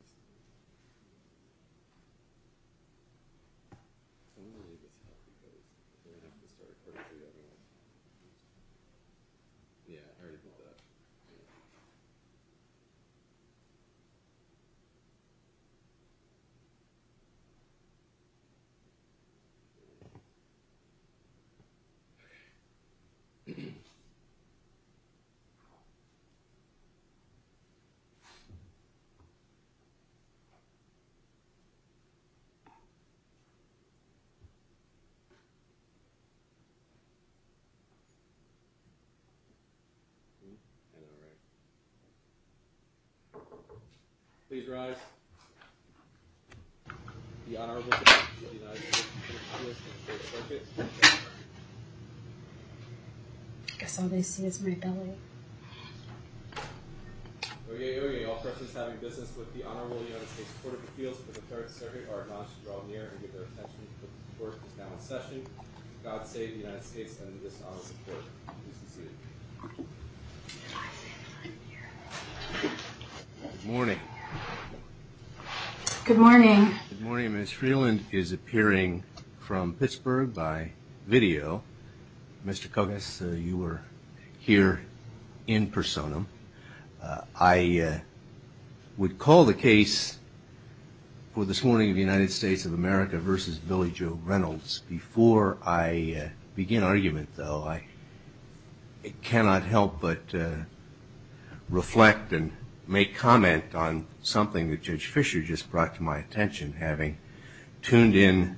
my all right here morning good morning morning is real and is appearing from pittsburgh by video mister congress uh... you were in person uh... i uh... would call the case for this morning united states of america versus billy joe reynolds before i uh... begin argument though it cannot help but uh... reflect and make comment on something that judge fisher just brought to my attention having tuned in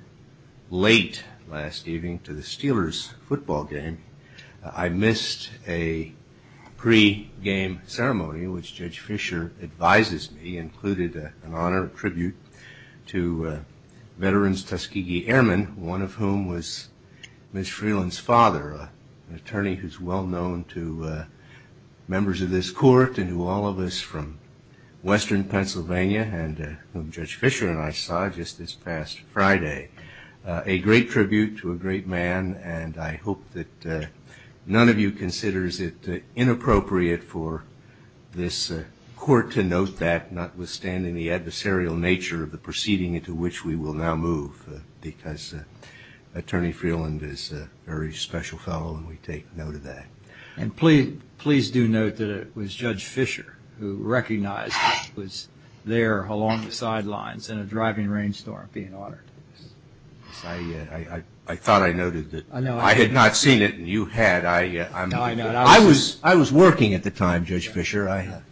late last evening to the steelers football game uh... i missed a game ceremony which judge fisher advises me included uh... honor tribute to uh... veterans tuskegee airmen one of whom was miss freelance father attorney who's well known to uh... members of this court and all of us from western pennsylvania and uh... judge fisher and i saw just this past friday uh... a great tribute to a great man and i hope that uh... none of you considers it uh... inappropriate for this uh... court to note that notwithstanding the adversarial nature of the proceeding into which we will now move because uh... attorney freeland is uh... very special fellow and we take note of that and please please do note that it was judge fisher who recognized there along the sidelines in a driving rainstorm being honored i uh... i thought i noted that i had not seen it and you had i uh... i was i was working at the time judge fisher i had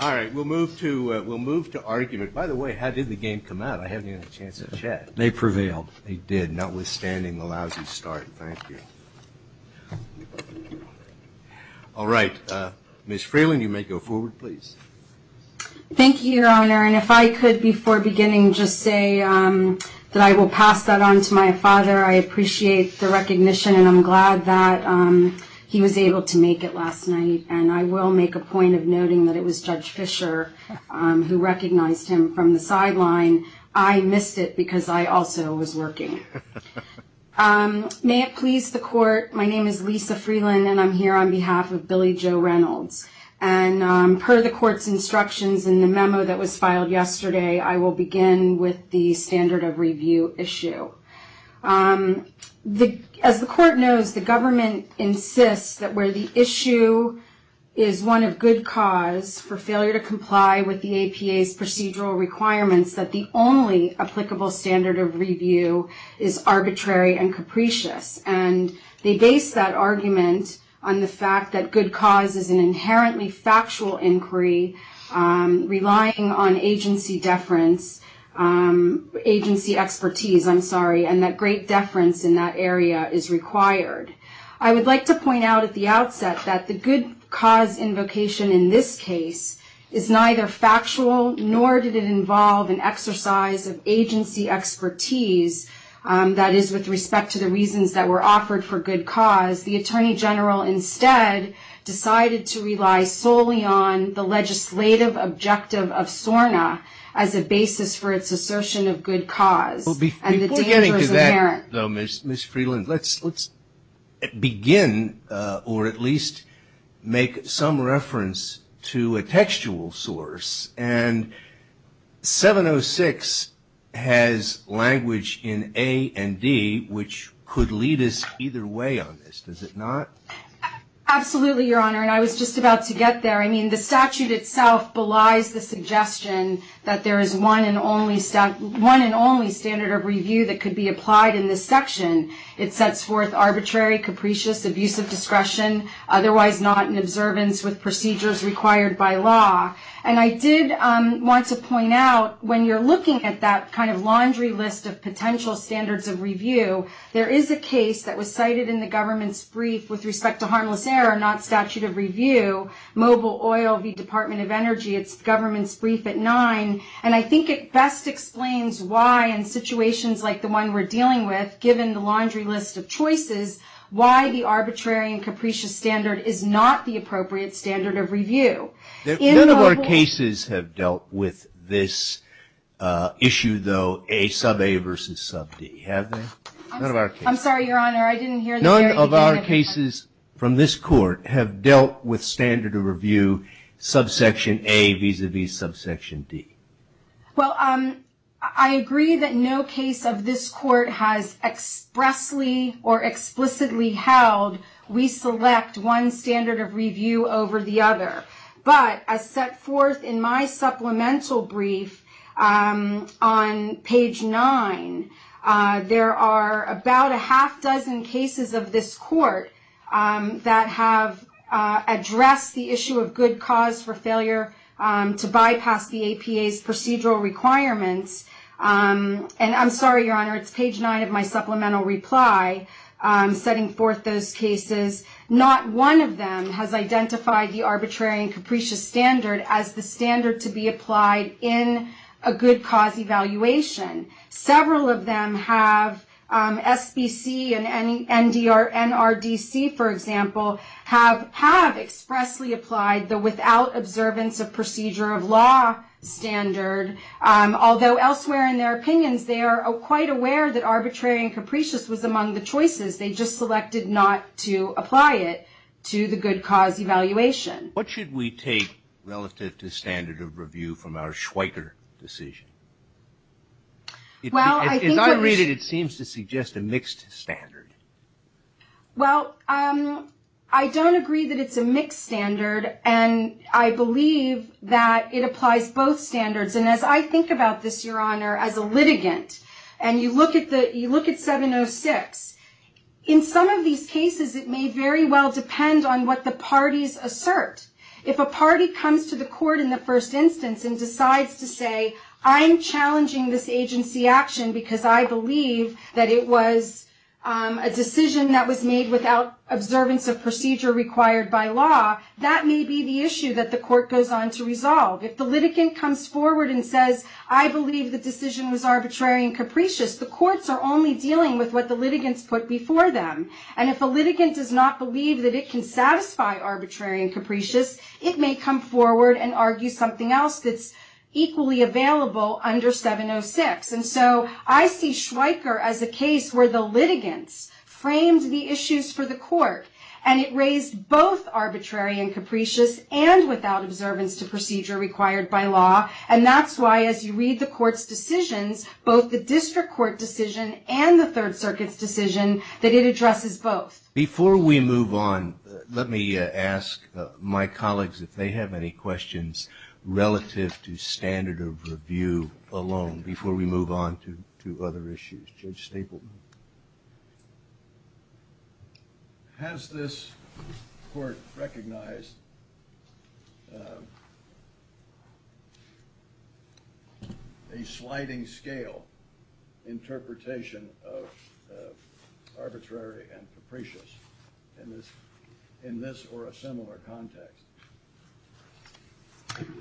all right we'll move to uh... we'll move to argument by the way how did the game come out i haven't even had a chance to check they prevailed they did notwithstanding the lousy start thank you all right uh... miss freeland you may go forward please thank you your honor and if i could before beginning just say uh... that i will pass that on to my father i appreciate the recognition and i'm glad that uh... he was able to make it last night and i will make a point of noting that it was judge fisher uh... who recognized him from the sideline i missed it because i also was working uh... may it please the court my name is lisa freeland and i'm here on behalf of billy joe reynolds and uh... per the court's instructions in the memo that was filed yesterday i will begin with the standard of review issue uh... the as the court knows the government insists that where the issue is one of good cause for failure to comply with the APA's procedural requirements that the only applicable standard of review is arbitrary and capricious and they base that argument on the fact that good cause is an inherently factual inquiry uh... relying on agency deference uh... agency expertise i'm sorry and that great deference in that area is required i would like to point out at the outset that the good cause invocation in this case is neither factual nor did it involve an exercise of agency expertise uh... that is with respect to the reasons that were offered for good cause the attorney general instead decided to rely solely on the legislative objective of SORNA as a basis for its assertion of good cause and the dangers apparent miss freeland let's let's begin uh... or at least make some reference to a textual source and seven oh six has language in A and D which could lead us either way on this does it not absolutely your honor and i was just about to get there i mean the statute itself belies the suggestion that there is one and only one and only standard of review that could be applied in this section it sets forth arbitrary capricious abuse of discretion otherwise not in observance with procedures required by law and i did want to point out when you're looking at that kind of laundry list of potential standards of review there is a case that was cited in the government's brief with respect to harmless error not statute of review mobile oil v department of energy it's government's brief at nine and i think it best explains why in situations like the one we're dealing with given the laundry list of choices of review none of our cases have dealt with this uh... issue though a sub A versus sub D have they? i'm sorry your honor i didn't hear the very beginning of that none of our cases from this court have dealt with standard of review subsection A vis-a-vis subsection D well um i agree that no case of this court has expressly or explicitly held we select one standard of review over the other but as set forth in my supplemental brief uh... on page nine uh... there are about a half dozen cases of this court uh... that have uh... addressed the issue of good cause for failure uh... to bypass the APA's procedural requirements uh... and i'm sorry your honor it's page nine of my supplemental reply uh... setting forth those cases not one of them has identified the arbitrary and capricious standard as the standard to be applied in a good cause evaluation several of them have uh... SBC and NRDC for example have expressly applied the without observance of procedure of law standard uh... although elsewhere in their opinions they are quite aware that arbitrary and capricious was among the choices they just selected not to apply it to the good cause evaluation what should we take relative to standard of review from our Schweiker decision as i read it it seems to suggest a mixed standard well uh... i don't agree that it's a mixed standard and i believe that it applies both standards and as i think about this your honor as a litigant and you look at the you look at 706 in some of these cases it may very well depend on what the parties assert if a party comes to the court in the first instance and decides to say i'm challenging this agency action because i believe that it was uh... a decision that was made without observance of procedure required by law that may be the issue that the court goes on to resolve if the litigant comes forward and says i believe the decision was arbitrary and capricious the courts are only dealing with what the litigants put before them and if a litigant does not believe that it can satisfy arbitrary and capricious it may come forward and argue something else that's equally available under 706 and so i see Schweiker as a case where the litigants framed the issues for the court and it raised both arbitrary and capricious and without observance to procedure required by law and that's why as you read the court's decisions both the district court decision and the third circuit's decision that it addresses both before we move on let me ask my colleagues if they have any questions relative to standard of review alone before we move on to to other issues has this recognized uh... a sliding scale interpretation of arbitrary and capricious in this or a similar context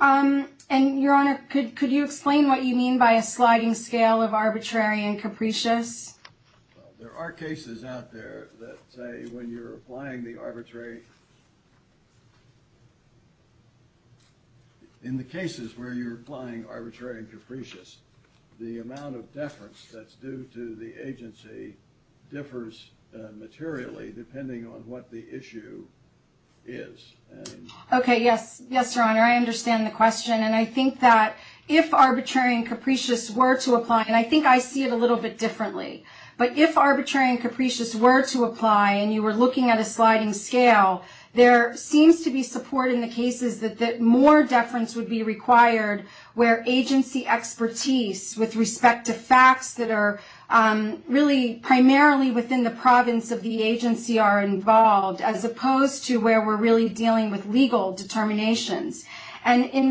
uh... and your honor could you explain what you mean by a sliding scale of arbitrary and capricious there are cases out there that say when you're applying the arbitrary in the cases where you're applying arbitrary and capricious the amount of deference that's due to the agency differs materially depending on what the issue is okay yes yes your honor i understand the question and i think that if arbitrary and capricious were to apply and i think i see it a little bit differently but if arbitrary and capricious were to apply and you were looking at a sliding scale there seems to be support in the cases that more deference would be required where agency expertise with respect to facts that are uh... really primarily within the province of the agency are involved as opposed to where we're really dealing with legal determinations and in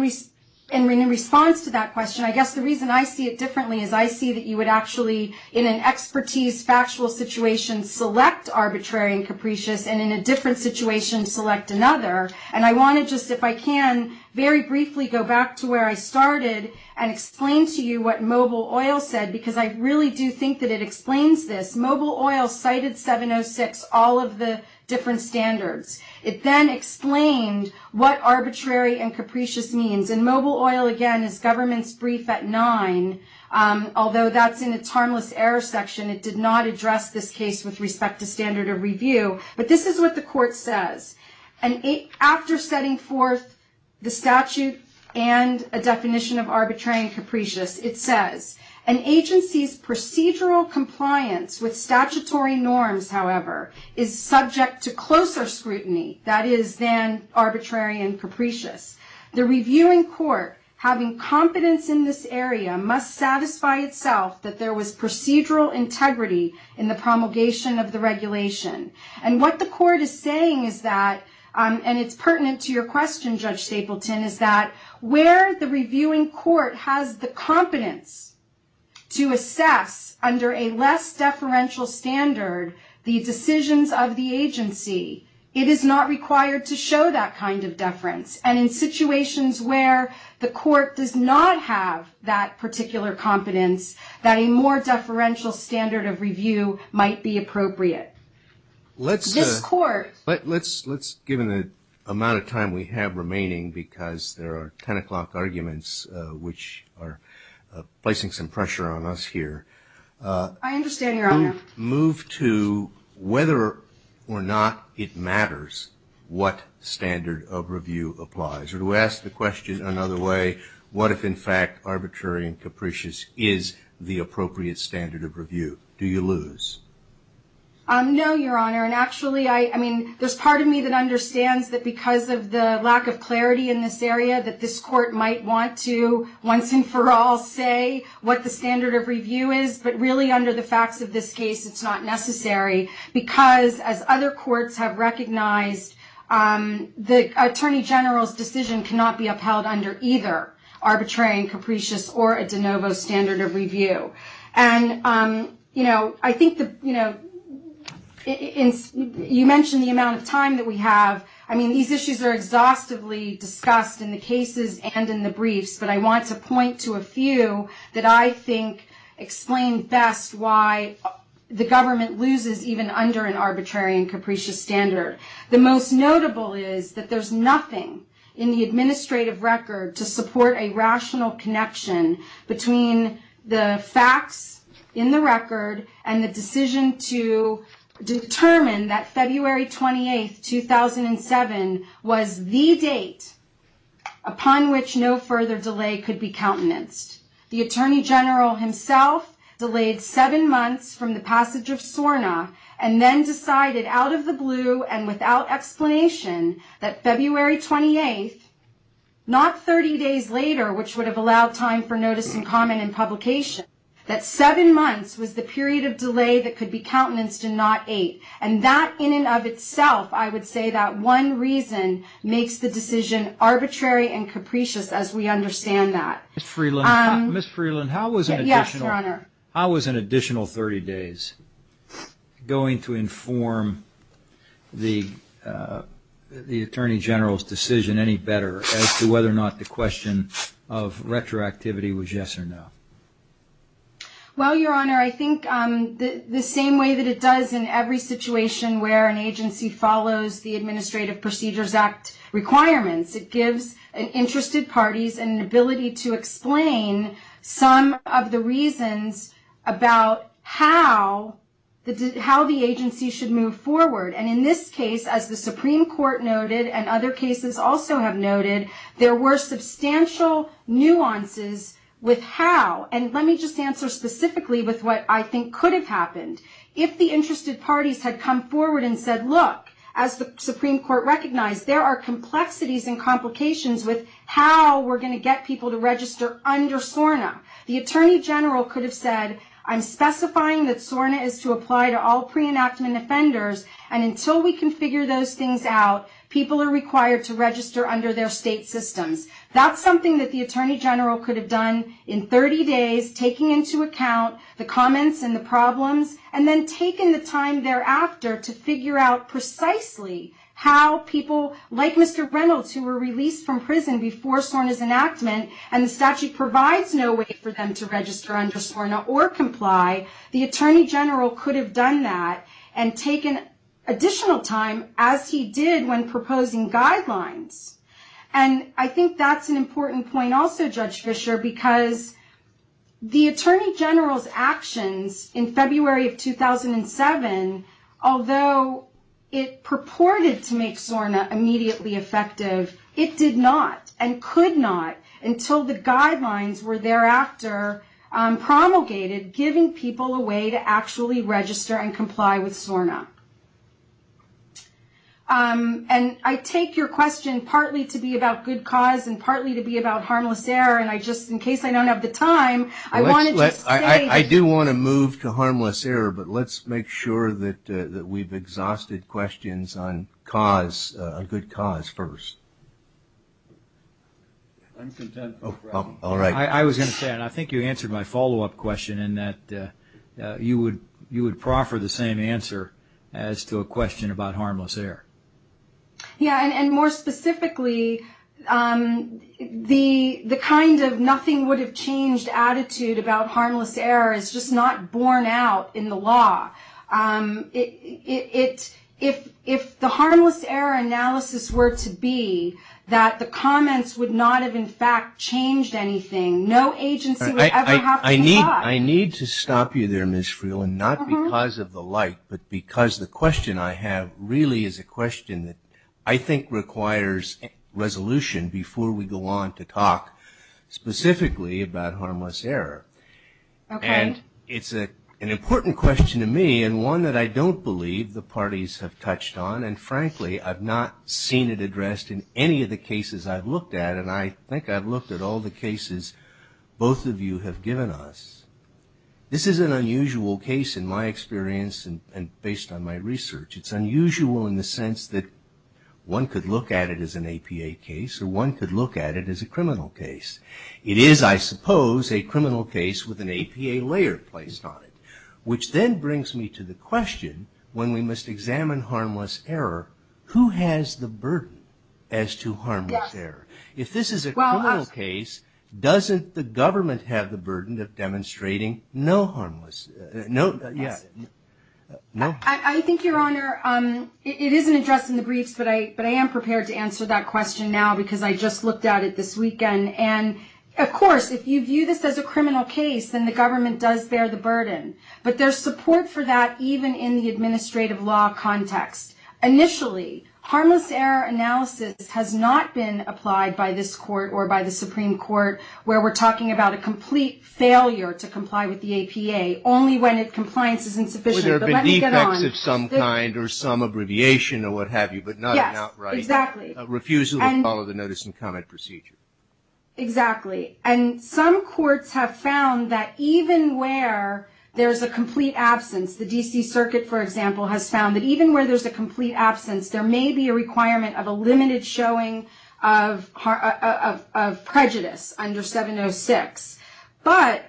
response to that question i guess the reason i see it differently is i see that you would actually in an expertise factual situation select arbitrary and capricious and in a different situation select another and i want to just if i can very briefly go back to where i started and explain to you what mobile oil said because i really do think that it explains this mobile oil cited 706 all of the different standards it then explained what arbitrary and capricious means and mobile oil again is government's brief at nine uh... although that's in its harmless error section it did not address this case with respect to standard of review but this is what the court says and after setting forth the statute and a definition of arbitrary and capricious it says an agency's procedural compliance with statutory norms however is subject to arbitrary and capricious the reviewing court having confidence in this area must satisfy itself that there was procedural integrity in the promulgation of the regulation and what the court is saying is that uh... and it's pertinent to your question judge stapleton is that where the reviewing court has the confidence to assess under a less deferential standard the decisions of the agency it is not required to show that kind of deference and in situations where the court does not have that particular confidence that a more deferential standard of review might be appropriate let's uh... this court let's let's given the amount of time we have remaining because there are ten o'clock arguments uh... which placing some pressure on us here uh... i understand your honor move to whether or not it matters what standard of review applies or to ask the question another way what if in fact arbitrary and capricious is the appropriate standard of review do you lose uh... no your honor and actually i i mean there's part of me that understands that because of the lack of clarity in this area that this court might want to once and for all say what the standard of review is but really under the facts of this case it's not necessary because as other courts have recognized uh... the attorney general's decision cannot be upheld under either arbitrary and capricious or a de novo standard of review and uh... you know i think that you know you mentioned the amount of time that we have i mean these issues are exhaustively discussed in the cases and in the briefs but i want to point to a few that i think explain best why the government loses even under an arbitrary and capricious standard the most notable is that there's nothing in the administrative record to support a rational connection between the facts in the record and the decision to determine that february twenty eighth two thousand seven was the date upon which no further delay could be countenanced the attorney general himself delayed seven months from the passage of SORNA and then decided out of the blue and without explanation that february twenty eighth not thirty days later which would have allowed time for notice and comment and publication that seven months was the period of delay that could be countenanced and not eight and that in and of itself i would say that one reason makes the decision arbitrary and capricious as we understand that Ms. Freeland, how was an additional thirty days going to inform the attorney general's decision any better as to whether or not the question of retroactivity was yes or no well your honor i think that the same way that it does in every situation where an agency follows the administrative procedures act requirements it gives interested parties an ability to explain some of the reasons about how how the agency should move forward and in this case as the supreme court noted and other cases also have noted there were substantial nuances with how and let me just answer specifically with what i think could have happened if the interested parties had come forward and said look as the supreme court recognized there are complexities and complications with how we're going to get people to register under SORNA the attorney general could have said I'm specifying that SORNA is to apply to all pre-enactment offenders and until we can figure those things out people are required to register under their state systems that's something that the attorney general could have done in thirty days taking into account the comments and the problems and then taking the time thereafter to figure out precisely how people like Mr. Reynolds who were released from prison before SORNA's enactment and the statute provides no way for them to register under SORNA or comply the attorney general could have done that and taken additional time as he did when proposing guidelines and i think that's an important point also judge fisher because the attorney general's actions in february of two thousand seven although it purported to make SORNA immediately effective it did not and could not until the guidelines were thereafter promulgated giving people a way to actually register and comply with SORNA uh... and i'd take your question partly to be about good cause and partly to be about harmless error and i just in case i don't have the time i do want to move to harmless error but let's make sure that uh... that we've exhausted questions on cause uh... good cause first i was going to say and i think you answered my follow-up question in that uh... you would you would proffer the same answer as to a question about harmless error yeah and more specifically uh... the the kind of nothing would have changed attitude about harmless error is just not borne out in the law uh... it if the harmless error analysis were to be that the comments would not have in fact changed anything no agency would ever have to comply i need to stop you there Ms. Freeland not because of the like but because the question i have really is a question i think requires resolution before we go on to talk specifically about harmless error and it's a an important question to me and one that i don't believe the parties have touched on and frankly i've not seen it addressed in any of the cases i've looked at and i think i've looked at all the cases both of you have given us this is an unusual case in my experience and and based on my research it's one could look at it as an APA case or one could look at it as a criminal case it is i suppose a criminal case with an APA layer placed on it which then brings me to the question when we must examine harmless error who has the burden as to harmless error if this is a criminal case doesn't the government have the burden of demonstrating no harmless uh... no yes i think your honor it isn't addressed in the briefs but i am prepared to answer that question now because i just looked at it this weekend and of course if you view this as a criminal case then the government does bear the burden but there's support for that even in the administrative law context initially harmless error analysis has not been applied by this court or by the supreme court where we're talking about a complete failure to comply with the APA only when compliance is insufficient but let me get on with it. where there have been defects of some kind or some abbreviation or what have you but not an outright refusal to follow the notice and comment procedure exactly and some courts have found that even where there's a complete absence the dc circuit for example has found that even where there's a complete absence there may be a requirement of a limited showing of prejudice under 706 but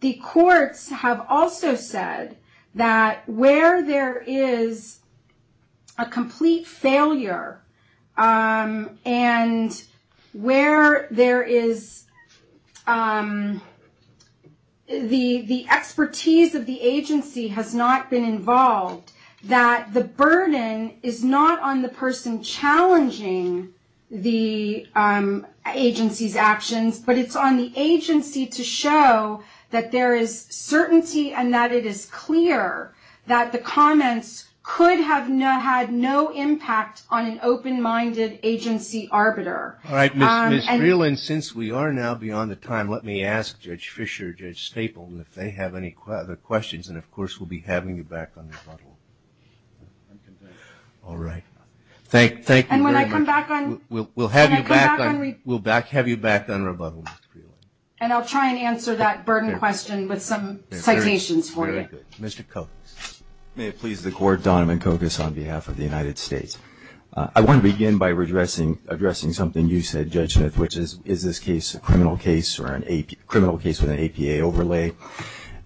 the courts have also said that where there is a complete failure uh... and where there is uh... the the expertise of the agency has not been involved that the burden is not on the person challenging the uh... agency's actions but it's on the agency to show that there is certainty and that it is clear that the comments could have had no impact on an open-minded agency arbiter alright Ms. Freeland since we are now beyond the time let me ask Judge Fischer and Judge Staple if they have any other questions and of course we'll be having you back on the panel alright thank you very much and when I come back we'll have you back on rebuttal and I'll try and answer that burden question with some citations for you Mr. Kokos, may it please the court Donovan Kokos on behalf of the United States uh... I want to begin by addressing something you said Judge Smith which is is this case a criminal case or a criminal case with an APA overlay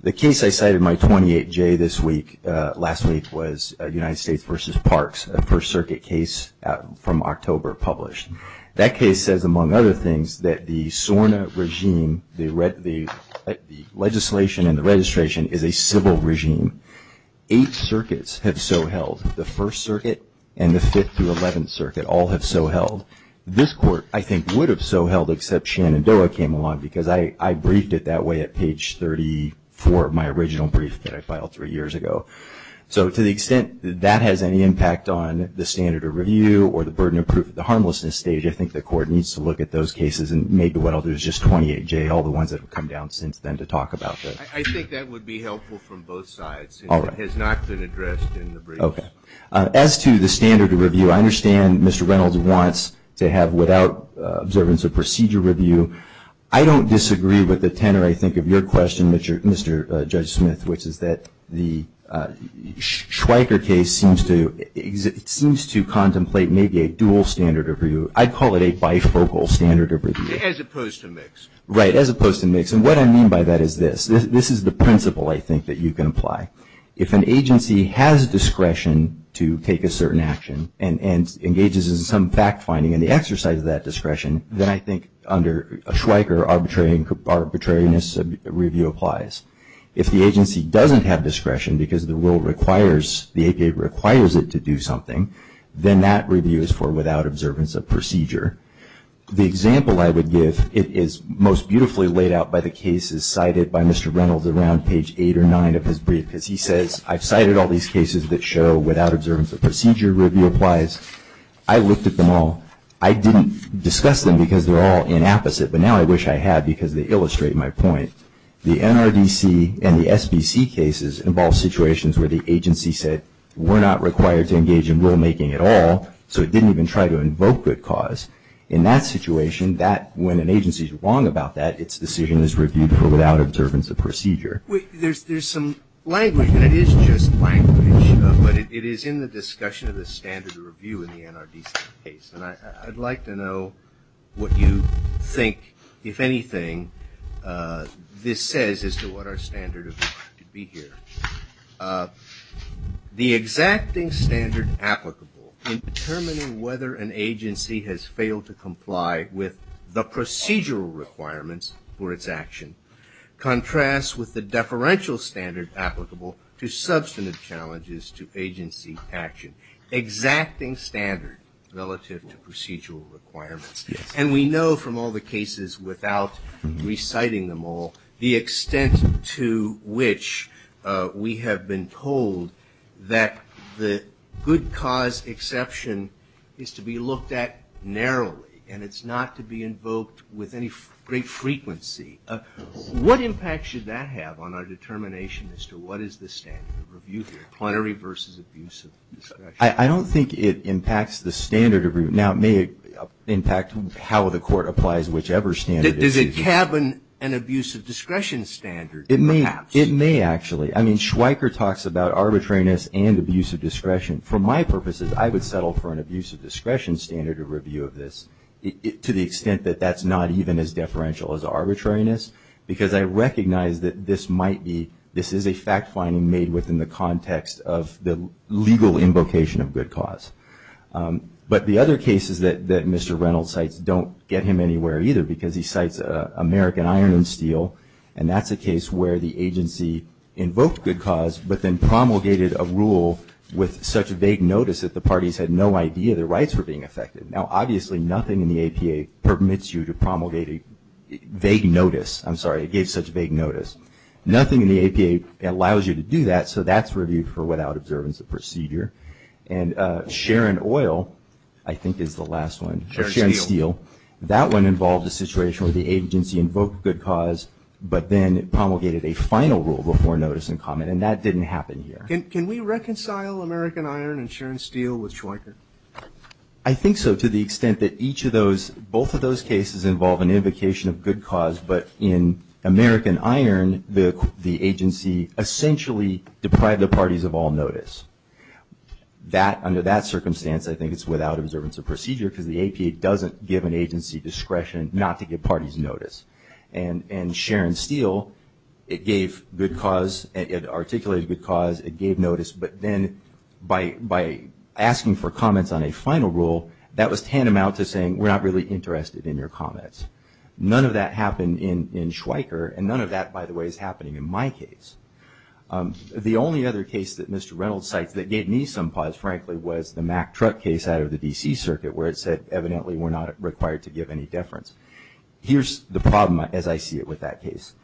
the case I cited my 28-J this week uh... last week was uh... United States versus Parks a first circuit case uh... from October published that case says among other things that the SORNA regime the legislation and the registration is a civil regime eight circuits have so held the first circuit and the fifth through eleventh circuit all have so held this court I think would have so held except Shenandoah came along because I I briefed it that way at page thirty four of my original brief that I filed three years ago so to the extent that that has any impact on the standard of review or the burden of proof at the harmlessness stage I think the court needs to look at those cases and maybe what I'll do is just 28-J all the ones that have come down since then to talk about that. I think that would be helpful from both sides since it has not been addressed in the brief uh... as to the standard of review I understand Mr. Reynolds wants to have without observance of procedure review I don't disagree with the tenor I think of your question Mr. Judge Smith which is that the Schweiker case seems to contemplate maybe a dual standard of review I'd call it a bifocal standard of review as opposed to mix right as opposed to mix and what I mean by that is this this is the principle I think that you can apply if an agency has discretion to take a certain action and engages in some fact-finding in the exercise of that discretion then I think under Schweiker arbitrariness review applies if the agency doesn't have discretion because the rule requires the APA requires it to do something then that review is for without observance of procedure the example I would give it is most beautifully laid out by the cases cited by Mr. Reynolds around page eight or nine of his brief because he says I've cited all these cases that show without observance of procedure review applies I looked at them all I didn't discuss them because they're all inapposite but now I wish I had because they illustrate my point the NRDC and the SBC cases involve situations where the agency said we're not required to engage in rulemaking at all so it didn't even try to invoke good cause in that situation that when an agency is wrong about that its decision is reviewed for without observance of procedure. There's some language and it is just language but it is in the discussion of the standard of review in the NRDC case and I'd like to know what you think if anything this says as to what our standard of review could be here the exacting standard applicable in determining whether an agency has failed to comply with the procedural requirements for its action contrasts with the deferential standard applicable to substantive challenges to agency action exacting standard relative to procedural requirements and we know from all the cases without reciting them all the extent to which we have been told that the good cause exception is to be looked at narrowly and it's not to be invoked with any great frequency what impact should that have on our determination as to what is the standard of review plenary versus abuse of discretion I don't think it impacts the standard of review now it may impact how the court applies whichever standard does it have an abuse of discretion standard it may actually I mean Schweiker talks about arbitrariness and abuse of discretion for my purposes I would settle for an abuse of discretion standard of review of this to the extent that that's not even as deferential as arbitrariness because I recognize that this might be this is a fact finding made within the context of the legal invocation of good cause but the other cases that Mr. Reynolds cites don't get him anywhere either because he cites American Iron and Steel and that's a case where the agency invoked good cause but then promulgated a rule with such vague notice that the parties had no idea the rights were being affected now obviously nothing in the APA permits you to promulgate vague notice I'm sorry it gave such vague notice nothing in the APA allows you to do that so that's reviewed for without observance of procedure and Sharon Oil I think is the last one, Sharon Steel that one involved a situation where the agency invoked good cause but then promulgated a final rule before notice and comment and that didn't happen here. Can we reconcile American Iron and Sharon Steel with Schweiker? I think so to the extent that each of those both of those cases involve an invocation of good cause but in American Iron the agency essentially deprived the parties of all notice that under that circumstance I think it's without observance of procedure because the APA doesn't give an agency discretion not to give parties notice and Sharon Steel it gave good cause, it articulated good cause, it gave notice but then by asking for comments on a final rule that was tantamount to saying we're not really interested in your comments none of that happened in Schweiker and none of that by the way is happening in my case the only other case that Mr. Reynolds cites that gave me some pause frankly was the Mack Truck case out of the DC circuit where it said evidently we're not required to give any deference here's the problem as I see it with that case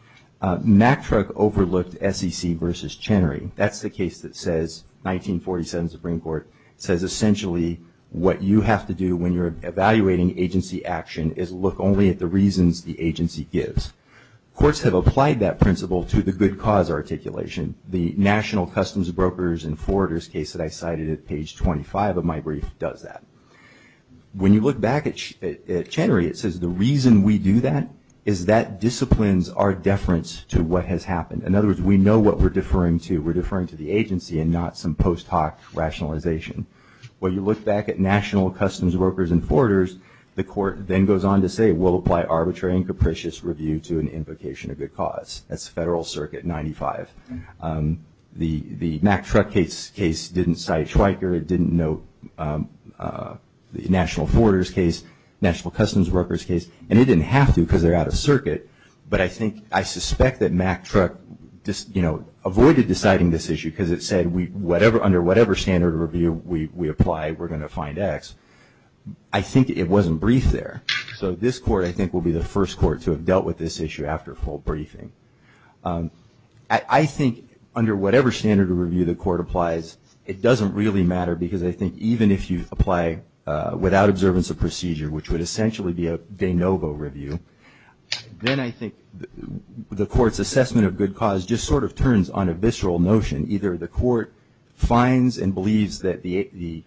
Mack Truck overlooked SEC versus Chenery that's the case that says 1947 Supreme Court says essentially what you have to do when you're evaluating agency action is look only at the reasons the agency gives courts have applied that principle to the good cause articulation the National Customs Brokers and Forerunners case that I cited at page 25 of my brief does that when you look back at Chenery it says the reason we do that is that disciplines our deference to what has happened in other words we know what we're deferring to, we're deferring to the agency and not some post hoc rationalization when you look back at National Customs Brokers and Forerunners the court then goes on to say we'll apply arbitrary and capricious review to an invocation of good cause that's Federal Circuit 95 the Mack Truck case didn't cite Schweiker, it didn't note the National Forerunners case National Customs Brokers case and it didn't have to because they're out of circuit but I think I suspect that Mack Truck you know avoided deciding this issue because it said under whatever standard review we apply we're going to find X I think it wasn't briefed there so this court I think will be the first court to have dealt with this issue after a full briefing I think under whatever standard review the court applies it doesn't really matter because I think even if you apply without observance of procedure which would essentially be a de novo review then I think the court's assessment of good cause just sort of turns on a visceral notion either the court finds and believes that the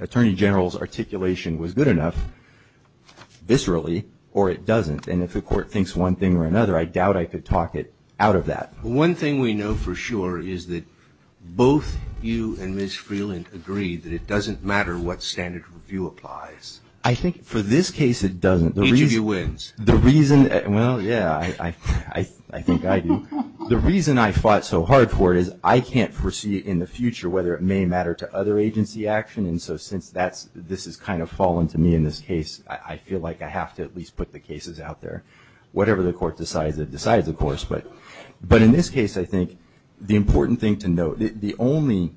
Attorney General's articulation was good enough viscerally or it doesn't and if the court thinks one thing or another I doubt I could talk it out of that. One thing we know for sure is that both you and Ms. Freeland agree that it doesn't matter what standard review applies. I think for this case it doesn't. Each of you wins. The reason, well yeah I think I do the reason I fought so hard for it is I can't foresee in the future whether it may matter to other agency action and so since that's this is kind of fallen to me in this case I feel like I have to at least put the cases out there whatever the court decides it decides of course but in this case I think the important thing to note the only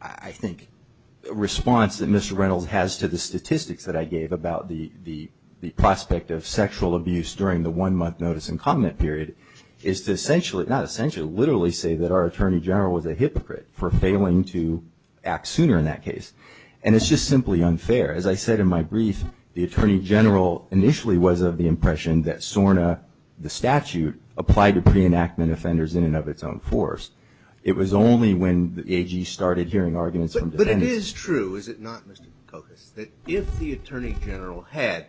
I think response that Mr. Reynolds has to the statistics that I gave about the one month notice and comment period is to essentially, not essentially, literally say that our Attorney General was a hypocrite for failing to act sooner in that case and it's just simply unfair as I said in my brief the Attorney General initially was of the impression that SORNA the statute applied to pre-enactment offenders in and of its own force it was only when the AG started hearing arguments from defendants. But it is true is it not Mr. Kokos that if the Attorney General had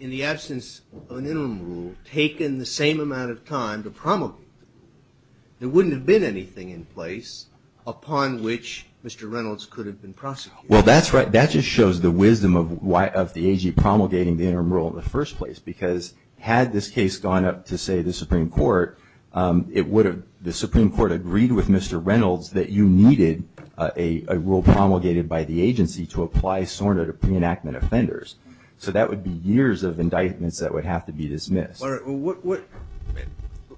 in the absence of an interim rule taken the same amount of time to promulgate there wouldn't have been anything in place upon which Mr. Reynolds could have been prosecuted. Well that's right that just shows the wisdom of why of the AG promulgating the interim rule in the first place because had this case gone up to say the Supreme Court it would have the Supreme Court agreed with Mr. Reynolds that you needed a rule promulgated by the agency to apply SORNA to pre-enactment offenders so that would be years of indictments that would have to be dismissed.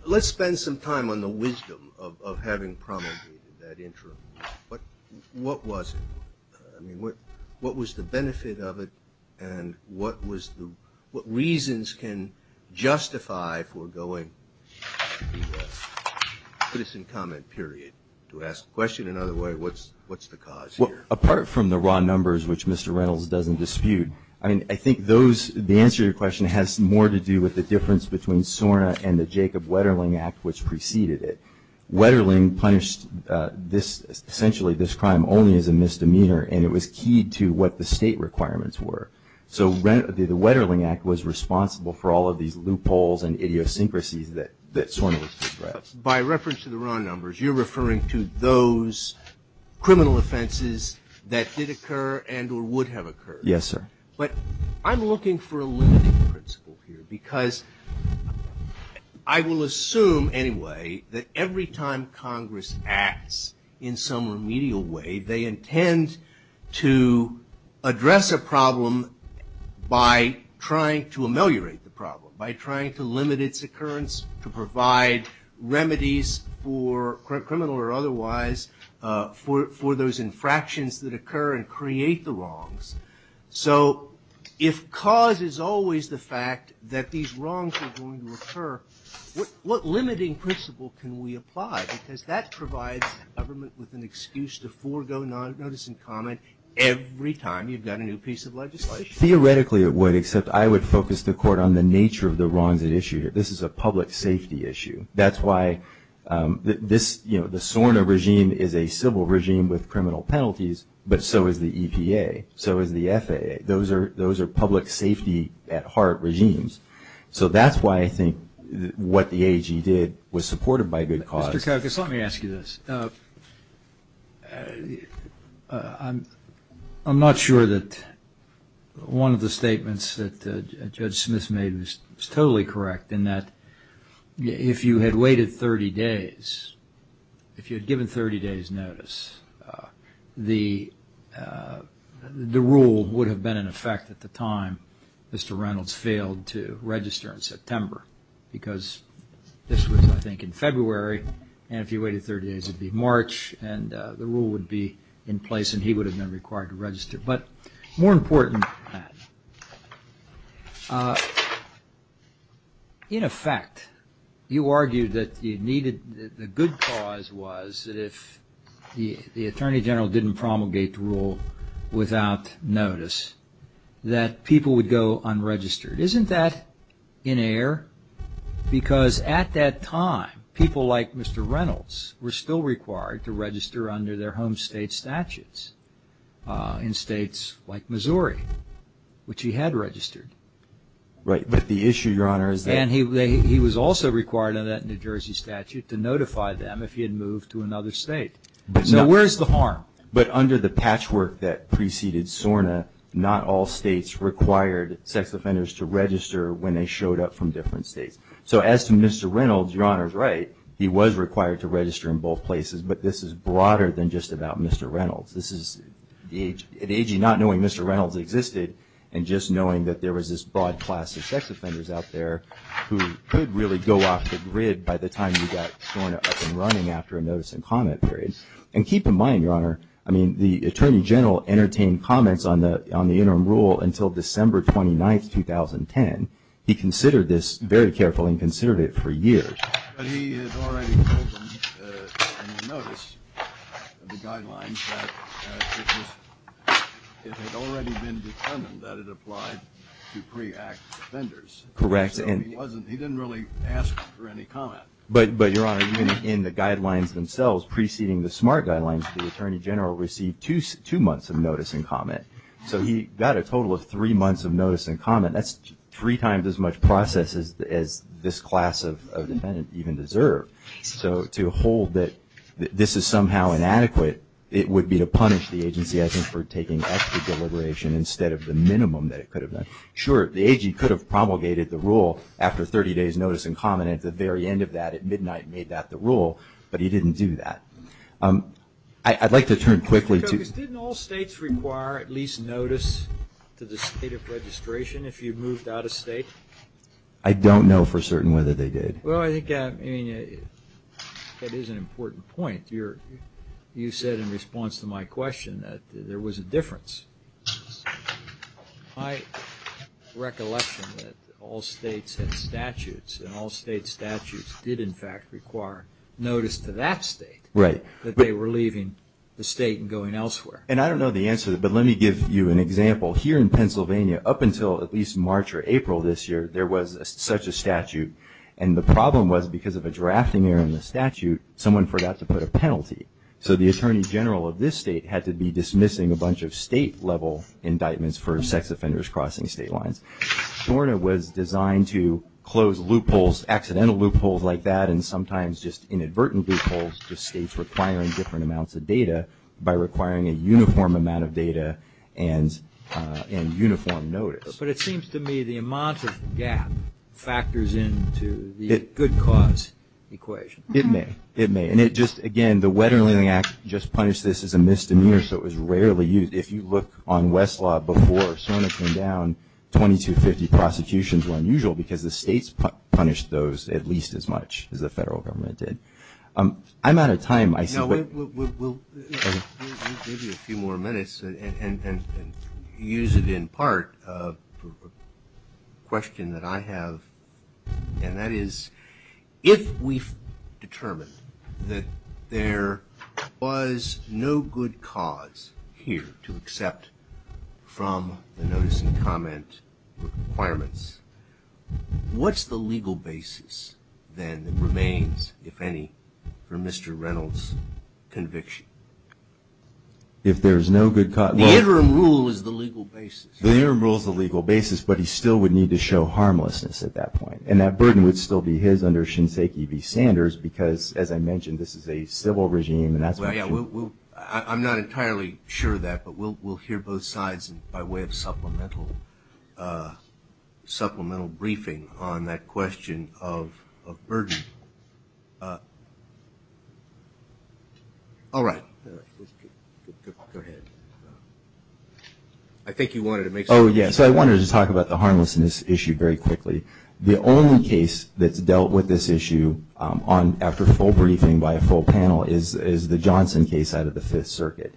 Let's spend some time on the wisdom of having promulgated that interim rule. What was it? What was the benefit of it and what was the, what reasons can justify for going to the citizen comment period to ask a question in other words what's the cause here? Well apart from the raw numbers which Mr. Reynolds doesn't dispute I mean I think those, the answer to your question has more to do with the difference between SORNA and the Jacob Wetterling Act which preceded it. Wetterling punished this, essentially this crime only as a misdemeanor and it was keyed to what the state requirements were so the Wetterling Act was responsible for all of these loopholes and idiosyncrasies that SORNA was prescribed. By reference to the raw numbers you're referring to those criminal offenses that did occur and or would have occurred. Yes sir. But I'm looking for a limiting principle here because I will assume anyway that every time Congress acts in some remedial way they intend to address a problem by trying to ameliorate the problem, by trying to limit its occurrence to provide remedies for criminal or otherwise for those infractions that occur and create the wrongs. So if cause is always the fact that these wrongs are going to occur, what limiting principle can we apply because that provides government with an excuse to forgo notice and comment every time you've got a new piece of legislation. Theoretically it would except I would focus the court on the nature of the wrongs at issue here. This is a public safety issue. That's why the SORNA regime is a civil regime with criminal penalties but so is the EPA, so is the FAA. Those are public safety at heart regimes. So that's why I think what the AG did was supported by good cause. Mr. Koukos, let me ask you this. I'm not sure that one of the statements that Judge Smith made was totally correct in that if you had waited 30 days, if you had given 30 days notice, the rule would have been in effect at the time Mr. Reynolds failed to register in September because this was, I think, in February and if you waited 30 days it would be March and the rule would be in place and he would have been required to register. But more important than that, in effect, you argued that you needed, the good cause was that if the Attorney General didn't promulgate the rule without notice, that people would go unregistered. Isn't that in error? Because at that time people like Mr. Reynolds were still required to register under their home state statutes in states like Missouri, which he had registered. Right, but the issue, Your Honor, is that... And he was also required in that New Jersey statute to notify them if he had moved to another state. So where's the harm? But under the patchwork that preceded SORNA, not all states required sex offenders to register when they showed up from different states. So as to Mr. Reynolds, Your Honor's right, he was required to register in both places, but this is broader than just about Mr. Reynolds. This is at age, not knowing Mr. Reynolds existed and just knowing that there was this broad class of sex offenders out there who could really go off the grid by the time you got SORNA up and running after a notice and comment period. And keep in mind, Your Honor, I mean, the Attorney General entertained comments on the interim rule until December 29, 2010. He considered this very carefully and considered it for years. But he had already told them on notice of the guidelines that it was... It had already been determined that it applied to pre-act offenders. Correct. And he didn't really ask for any comment. But, Your Honor, in the guidelines themselves preceding the SMART guidelines, the Attorney General received two months of notice and comment. So he got a total of three months of notice and comment. That's three times as much process as this class of This is somehow inadequate. It would be to punish the agency, I think, for taking extra deliberation instead of the minimum that it could have done. Sure, the AG could have promulgated the rule after 30 days notice and comment at the very end of that, at midnight, made that the rule, but he didn't do that. I'd like to turn quickly to... Did all states require at least notice to the State of Registration if you moved out of state? I don't know for certain whether they did. Well, I think that is an important point. You said in response to my question that there was a difference. My recollection that all states had statutes and all state statutes did, in fact, require notice to that state that they were leaving the state and going elsewhere. And I don't know the answer, but let me give you an example. Here in Pennsylvania, And the problem was, because of a drafting error in the statute, someone forgot to put a penalty. So the Attorney General of this state had to be dismissing a bunch of state-level indictments for sex offenders crossing state lines. SORNA was designed to close loopholes, accidental loopholes like that, and sometimes just inadvertent loopholes to states requiring different amounts of data by requiring a uniform amount of data and uniform notice. But it seems to me the amount of gap factors into the good cause equation. It may. It may. And it just, again, the Wetterling Act just punished this as a misdemeanor, so it was rarely used. If you look on Westlaw, before SORNA came down, 2250 prosecutions were unusual because the states punished those at least as much as the federal government did. I'm out of time, I see. We'll give you a few more minutes and use it in part for a question that I have, and that is, if we've determined that there was no good cause here to accept from the notice and comment requirements, what's the legal basis then that remains, if any, for Mr. Reynolds' conviction? If there's no good cause? The interim rule is the legal basis. The interim rule is the legal basis, but he still would need to show harmlessness at that point. And that burden would still be his under Shinseki B. Sanders because, as I mentioned, this is a civil regime. I'm not entirely sure of that, but we'll hear both sides by way of supplemental briefing on that question of burden. All right. Go ahead. I think you wanted to make... Oh yes, I wanted to talk about the harmlessness issue very quickly. The only case that's dealt with this issue after full briefing by a full panel is the Johnson case out of the Fifth Circuit.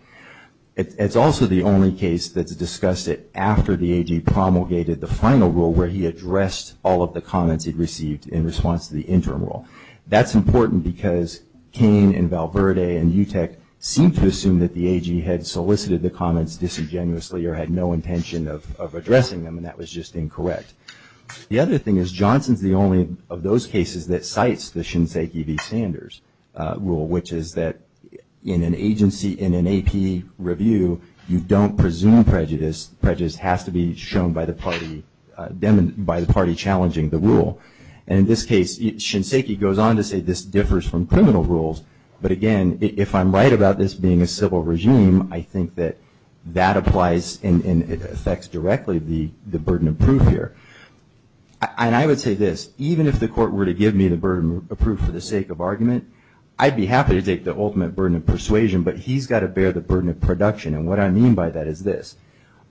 It's also the only case that's discussed it after the AG promulgated the final rule where he addressed all of the comments he'd received in response to the interim rule. That's important because Cain and Val Verde and UTEC seem to assume that the AG had solicited the comments disingenuously or had no intention of addressing them and that was just incorrect. The other thing is Johnson's the only of those cases that cites the Shinseki B. Sanders rule, which is that in an agency, in an AP review, you don't presume prejudice. Prejudice has to be shown by the party challenging the rule. In this case, Shinseki goes on to say this differs from criminal rules, but again, if I'm right about this being a civil regime, I think that that applies and affects directly the burden of proof here. And I would say this, even if the court were to give me the burden of proof for the sake of argument, I'd be happy to take the ultimate burden of persuasion, but he's got to bear the burden of production and what I mean by that is this.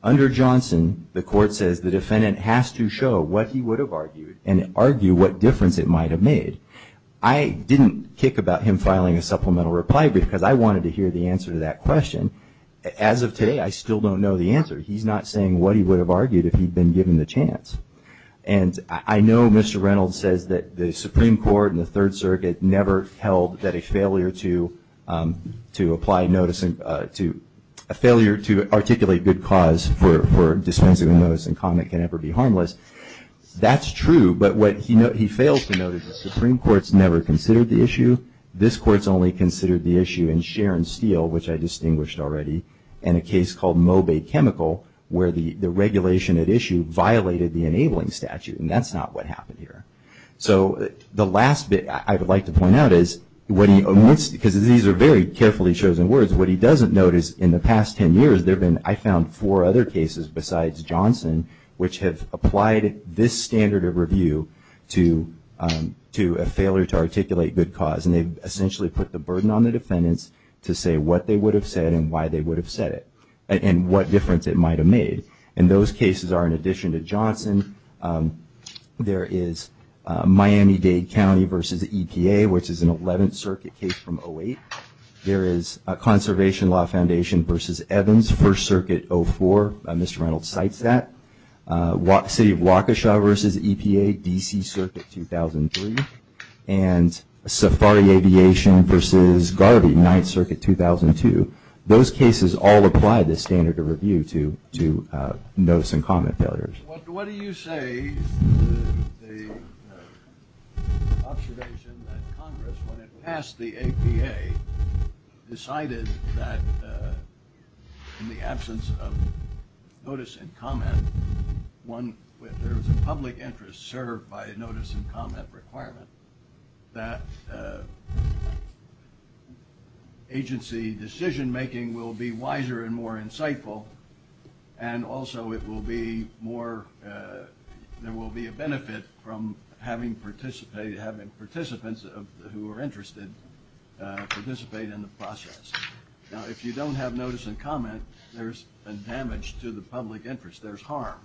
Under Johnson, the court says the defendant has to show what he would have argued and argue what difference it might have made. I didn't kick about him filing a supplemental reply because I wanted to hear the answer to that question. As of today, I still don't know the answer. He's not saying what he would have argued if he'd been given the chance. And I know Mr. Reynolds says that the Supreme Court and the Third Circuit never held that a failure to articulate good cause for dispensing a notice and comment can ever be harmless. That's true, but what he fails to note is the Supreme Court's never considered the issue. This court's only considered the issue in Sharon Steele, which I distinguished already, and a case called Moby Chemical where the regulation at issue violated the enabling statute and that's not what happened here. So the last bit I would like to point out is what he, because these are very carefully chosen words, what he doesn't notice in the past 10 years there have been, I found, four other cases besides Johnson which have applied this standard of review to a failure to articulate good cause and they've essentially put the burden on the defendants to say what they would have said and why they would have said it and what difference it might have made. And those cases are, in addition to Johnson, there is Miami-Dade County versus EPA, which is an 11th Circuit case from 08. There is a Conservation Law Foundation versus Evans, First Circuit 04. Mr. Reynolds cites that. The City of Waukesha versus EPA, DC Circuit 2003. And Safari Aviation versus Garvey, 9th Circuit 2002. Those cases all apply this standard of review to notice and comment failures. What do you say to the observation that Congress, when it passed the APA, decided that in the absence of notice and comment, one, if there was a public interest served by a notice and comment requirement, that agency decision making will be wiser and more insightful and also it will be more, there will be a benefit from having participants who are interested participate in the process. Now, if you don't have notice and comment, there's damage to the public interest. There's harm.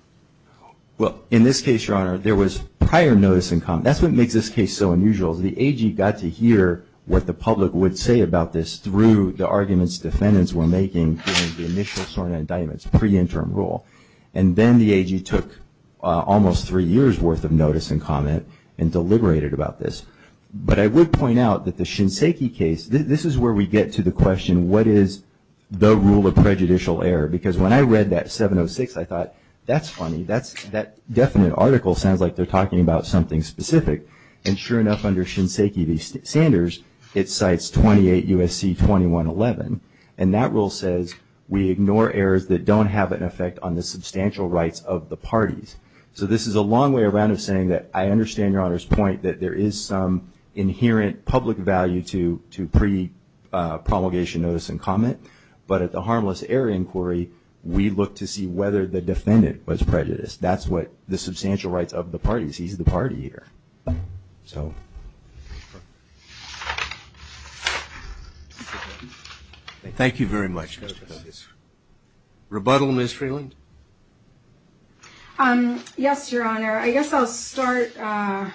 Well, in this case, Your Honor, there was prior notice and comment. That's what makes this case so unusual. The AG got to hear what the public would say about this through the arguments defendants were making during the initial SORNA indictments, pre-interim rule. And then the AG took almost three years' worth of notice and comment and deliberated about this. But I would point out that the Shinseki case, this is where we get to the question, what is the rule of prejudicial error? Because when I read that 706, I thought, that's funny. That definite article sounds like they're talking about something specific. And sure enough, under Shinseki v. Sanders, it cites 28 U.S.C. 2111. And that rule says, we ignore errors that don't have an effect on the substantial rights of the parties. So this is a long way around of saying that I understand Your Honor's point that there is some inherent public value to pre-promulgation notice and comment. But at the harmless error inquiry, we look to see whether the defendant was prejudiced. That's what the substantial rights of the parties, he's the party here. So. Thank you very much. Rebuttal, Ms. Freeland? Yes, Your Honor. I guess I'll start. I'm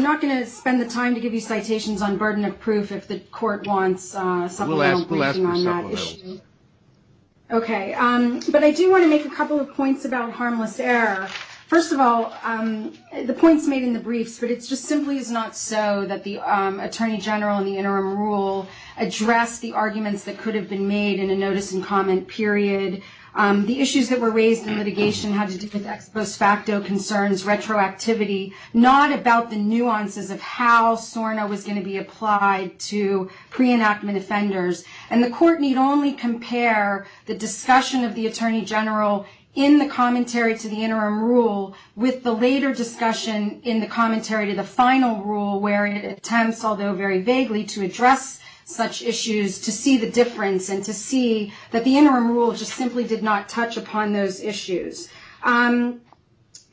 not going to spend the time to give you the brief if the court wants supplemental briefing on that issue. Okay. But I do want to make a couple of points about harmless error. First of all, the points made in the briefs, but it just simply is not so that the Attorney General in the interim rule addressed the arguments that could have been made in a notice and comment period. The issues that were raised in litigation had to do with ex post facto concerns, retroactivity, not about the nuances of how SORNA was going to be applied to pre-enactment offenders. And the court need only compare the discussion of the Attorney General in the commentary to the interim rule with the later discussion in the commentary to the final rule where it attempts, although very vaguely, to address such issues to see the difference and to see that the interim rule just simply did not touch upon those issues at all.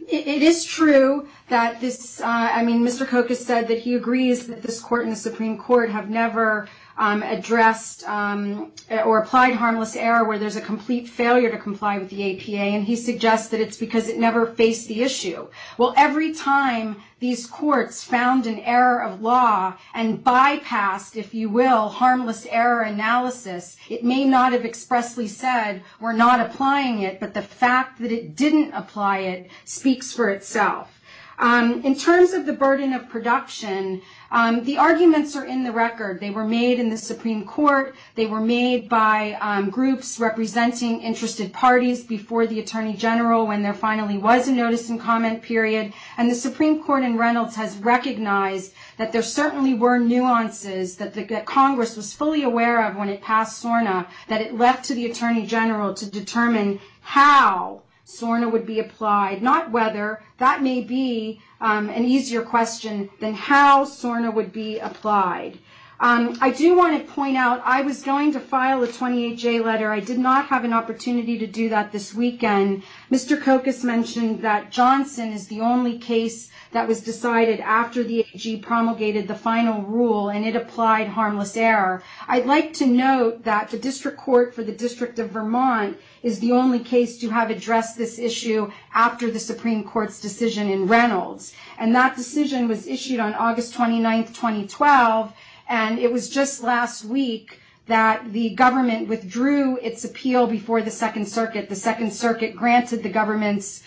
In addition to that, he agrees that this court and the Supreme Court have never addressed or applied harmless error where there's a complete failure to comply with the APA. And he suggests that it's because it never faced the issue. Well, every time these courts found an error of law and bypassed, if you will, harmless error analysis, it may not have expressly said, we're not applying it, but the fact that it didn't apply it speaks for itself. In terms of the burden of production, the arguments are in the record. They were made in the Supreme Court. They were made by groups representing interested parties before the Attorney General when there finally was a notice and comment period. And the Supreme Court in Reynolds has recognized that there certainly were nuances that Congress was fully aware of when it passed SORNA that it left to the Attorney General to determine how SORNA would be applied, not whether. That may be an easier question than how SORNA would be applied. I do want to point out, I was going to file a 28-J letter. I did not have an opportunity to do that this weekend. Mr. Kokas mentioned that Johnson is the only case that was decided after the AG promulgated the final rule and it applied harmless error. I'd like to note that the District Court for the District of Vermont is the only case to have addressed this issue after the Supreme Court's decision in Reynolds. And that decision was issued on August 29, 2012, and it was just last week that the government withdrew its appeal before the Second Circuit. The Second Circuit granted the government's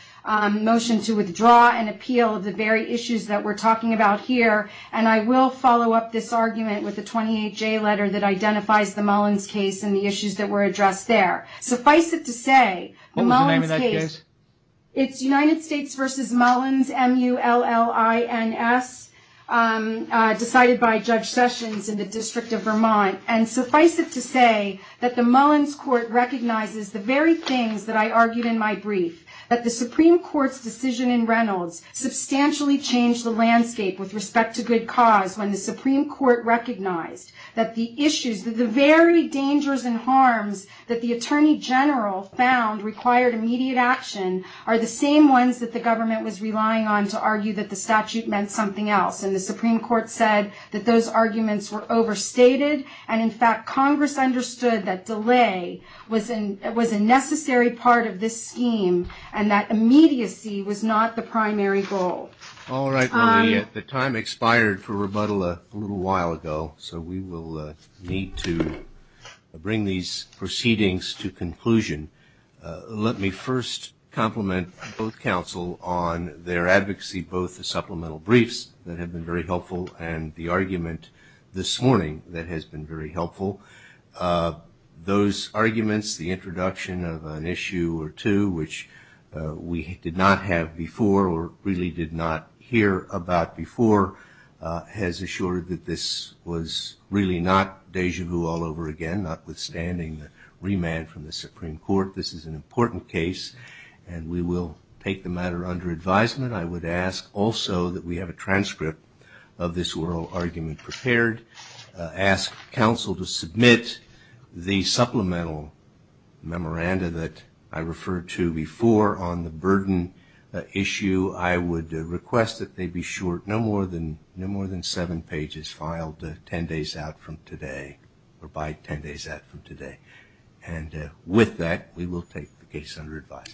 motion to withdraw an appeal of the very issues that we're talking about here. And I will follow up this 28-J letter that identifies the Mullins case and the issues that were addressed there. Suffice it to say, Mullins case... What was the name of that case? It's United States v. Mullins, M-U-L-L-I-N-S, decided by Judge Sessions in the District of Vermont. And suffice it to say that the Mullins court recognizes the very things that I argued in my brief, that the Supreme Court's decision in Reynolds substantially changed the landscape with respect to good cause when the issues, the very dangers and harms that the Attorney General found required immediate action are the same ones that the government was relying on to argue that the statute meant something else. And the Supreme Court said that those arguments were overstated, and in fact, Congress understood that delay was a necessary part of this scheme and that immediacy was not the primary goal. All right. Well, the time expired for rebuttal a little while ago, so we will need to bring these proceedings to conclusion. Let me first compliment both counsel on their advocacy, both the supplemental briefs that have been very helpful and the argument this morning that has been very helpful. Those arguments, the introduction of an issue or two which we did not have before or really did not hear about before has assured that this was really not deja vu all over again, notwithstanding the remand from the Supreme Court. This is an important case, and we will take the matter under advisement. I would ask also that we have a transcript of this oral argument prepared, ask counsel to submit the supplemental memoranda that I referred to before on the burden issue. I would request that they be short no more than seven pages filed ten days out from today or by ten days out from today. And with that, we will take the case under advisement.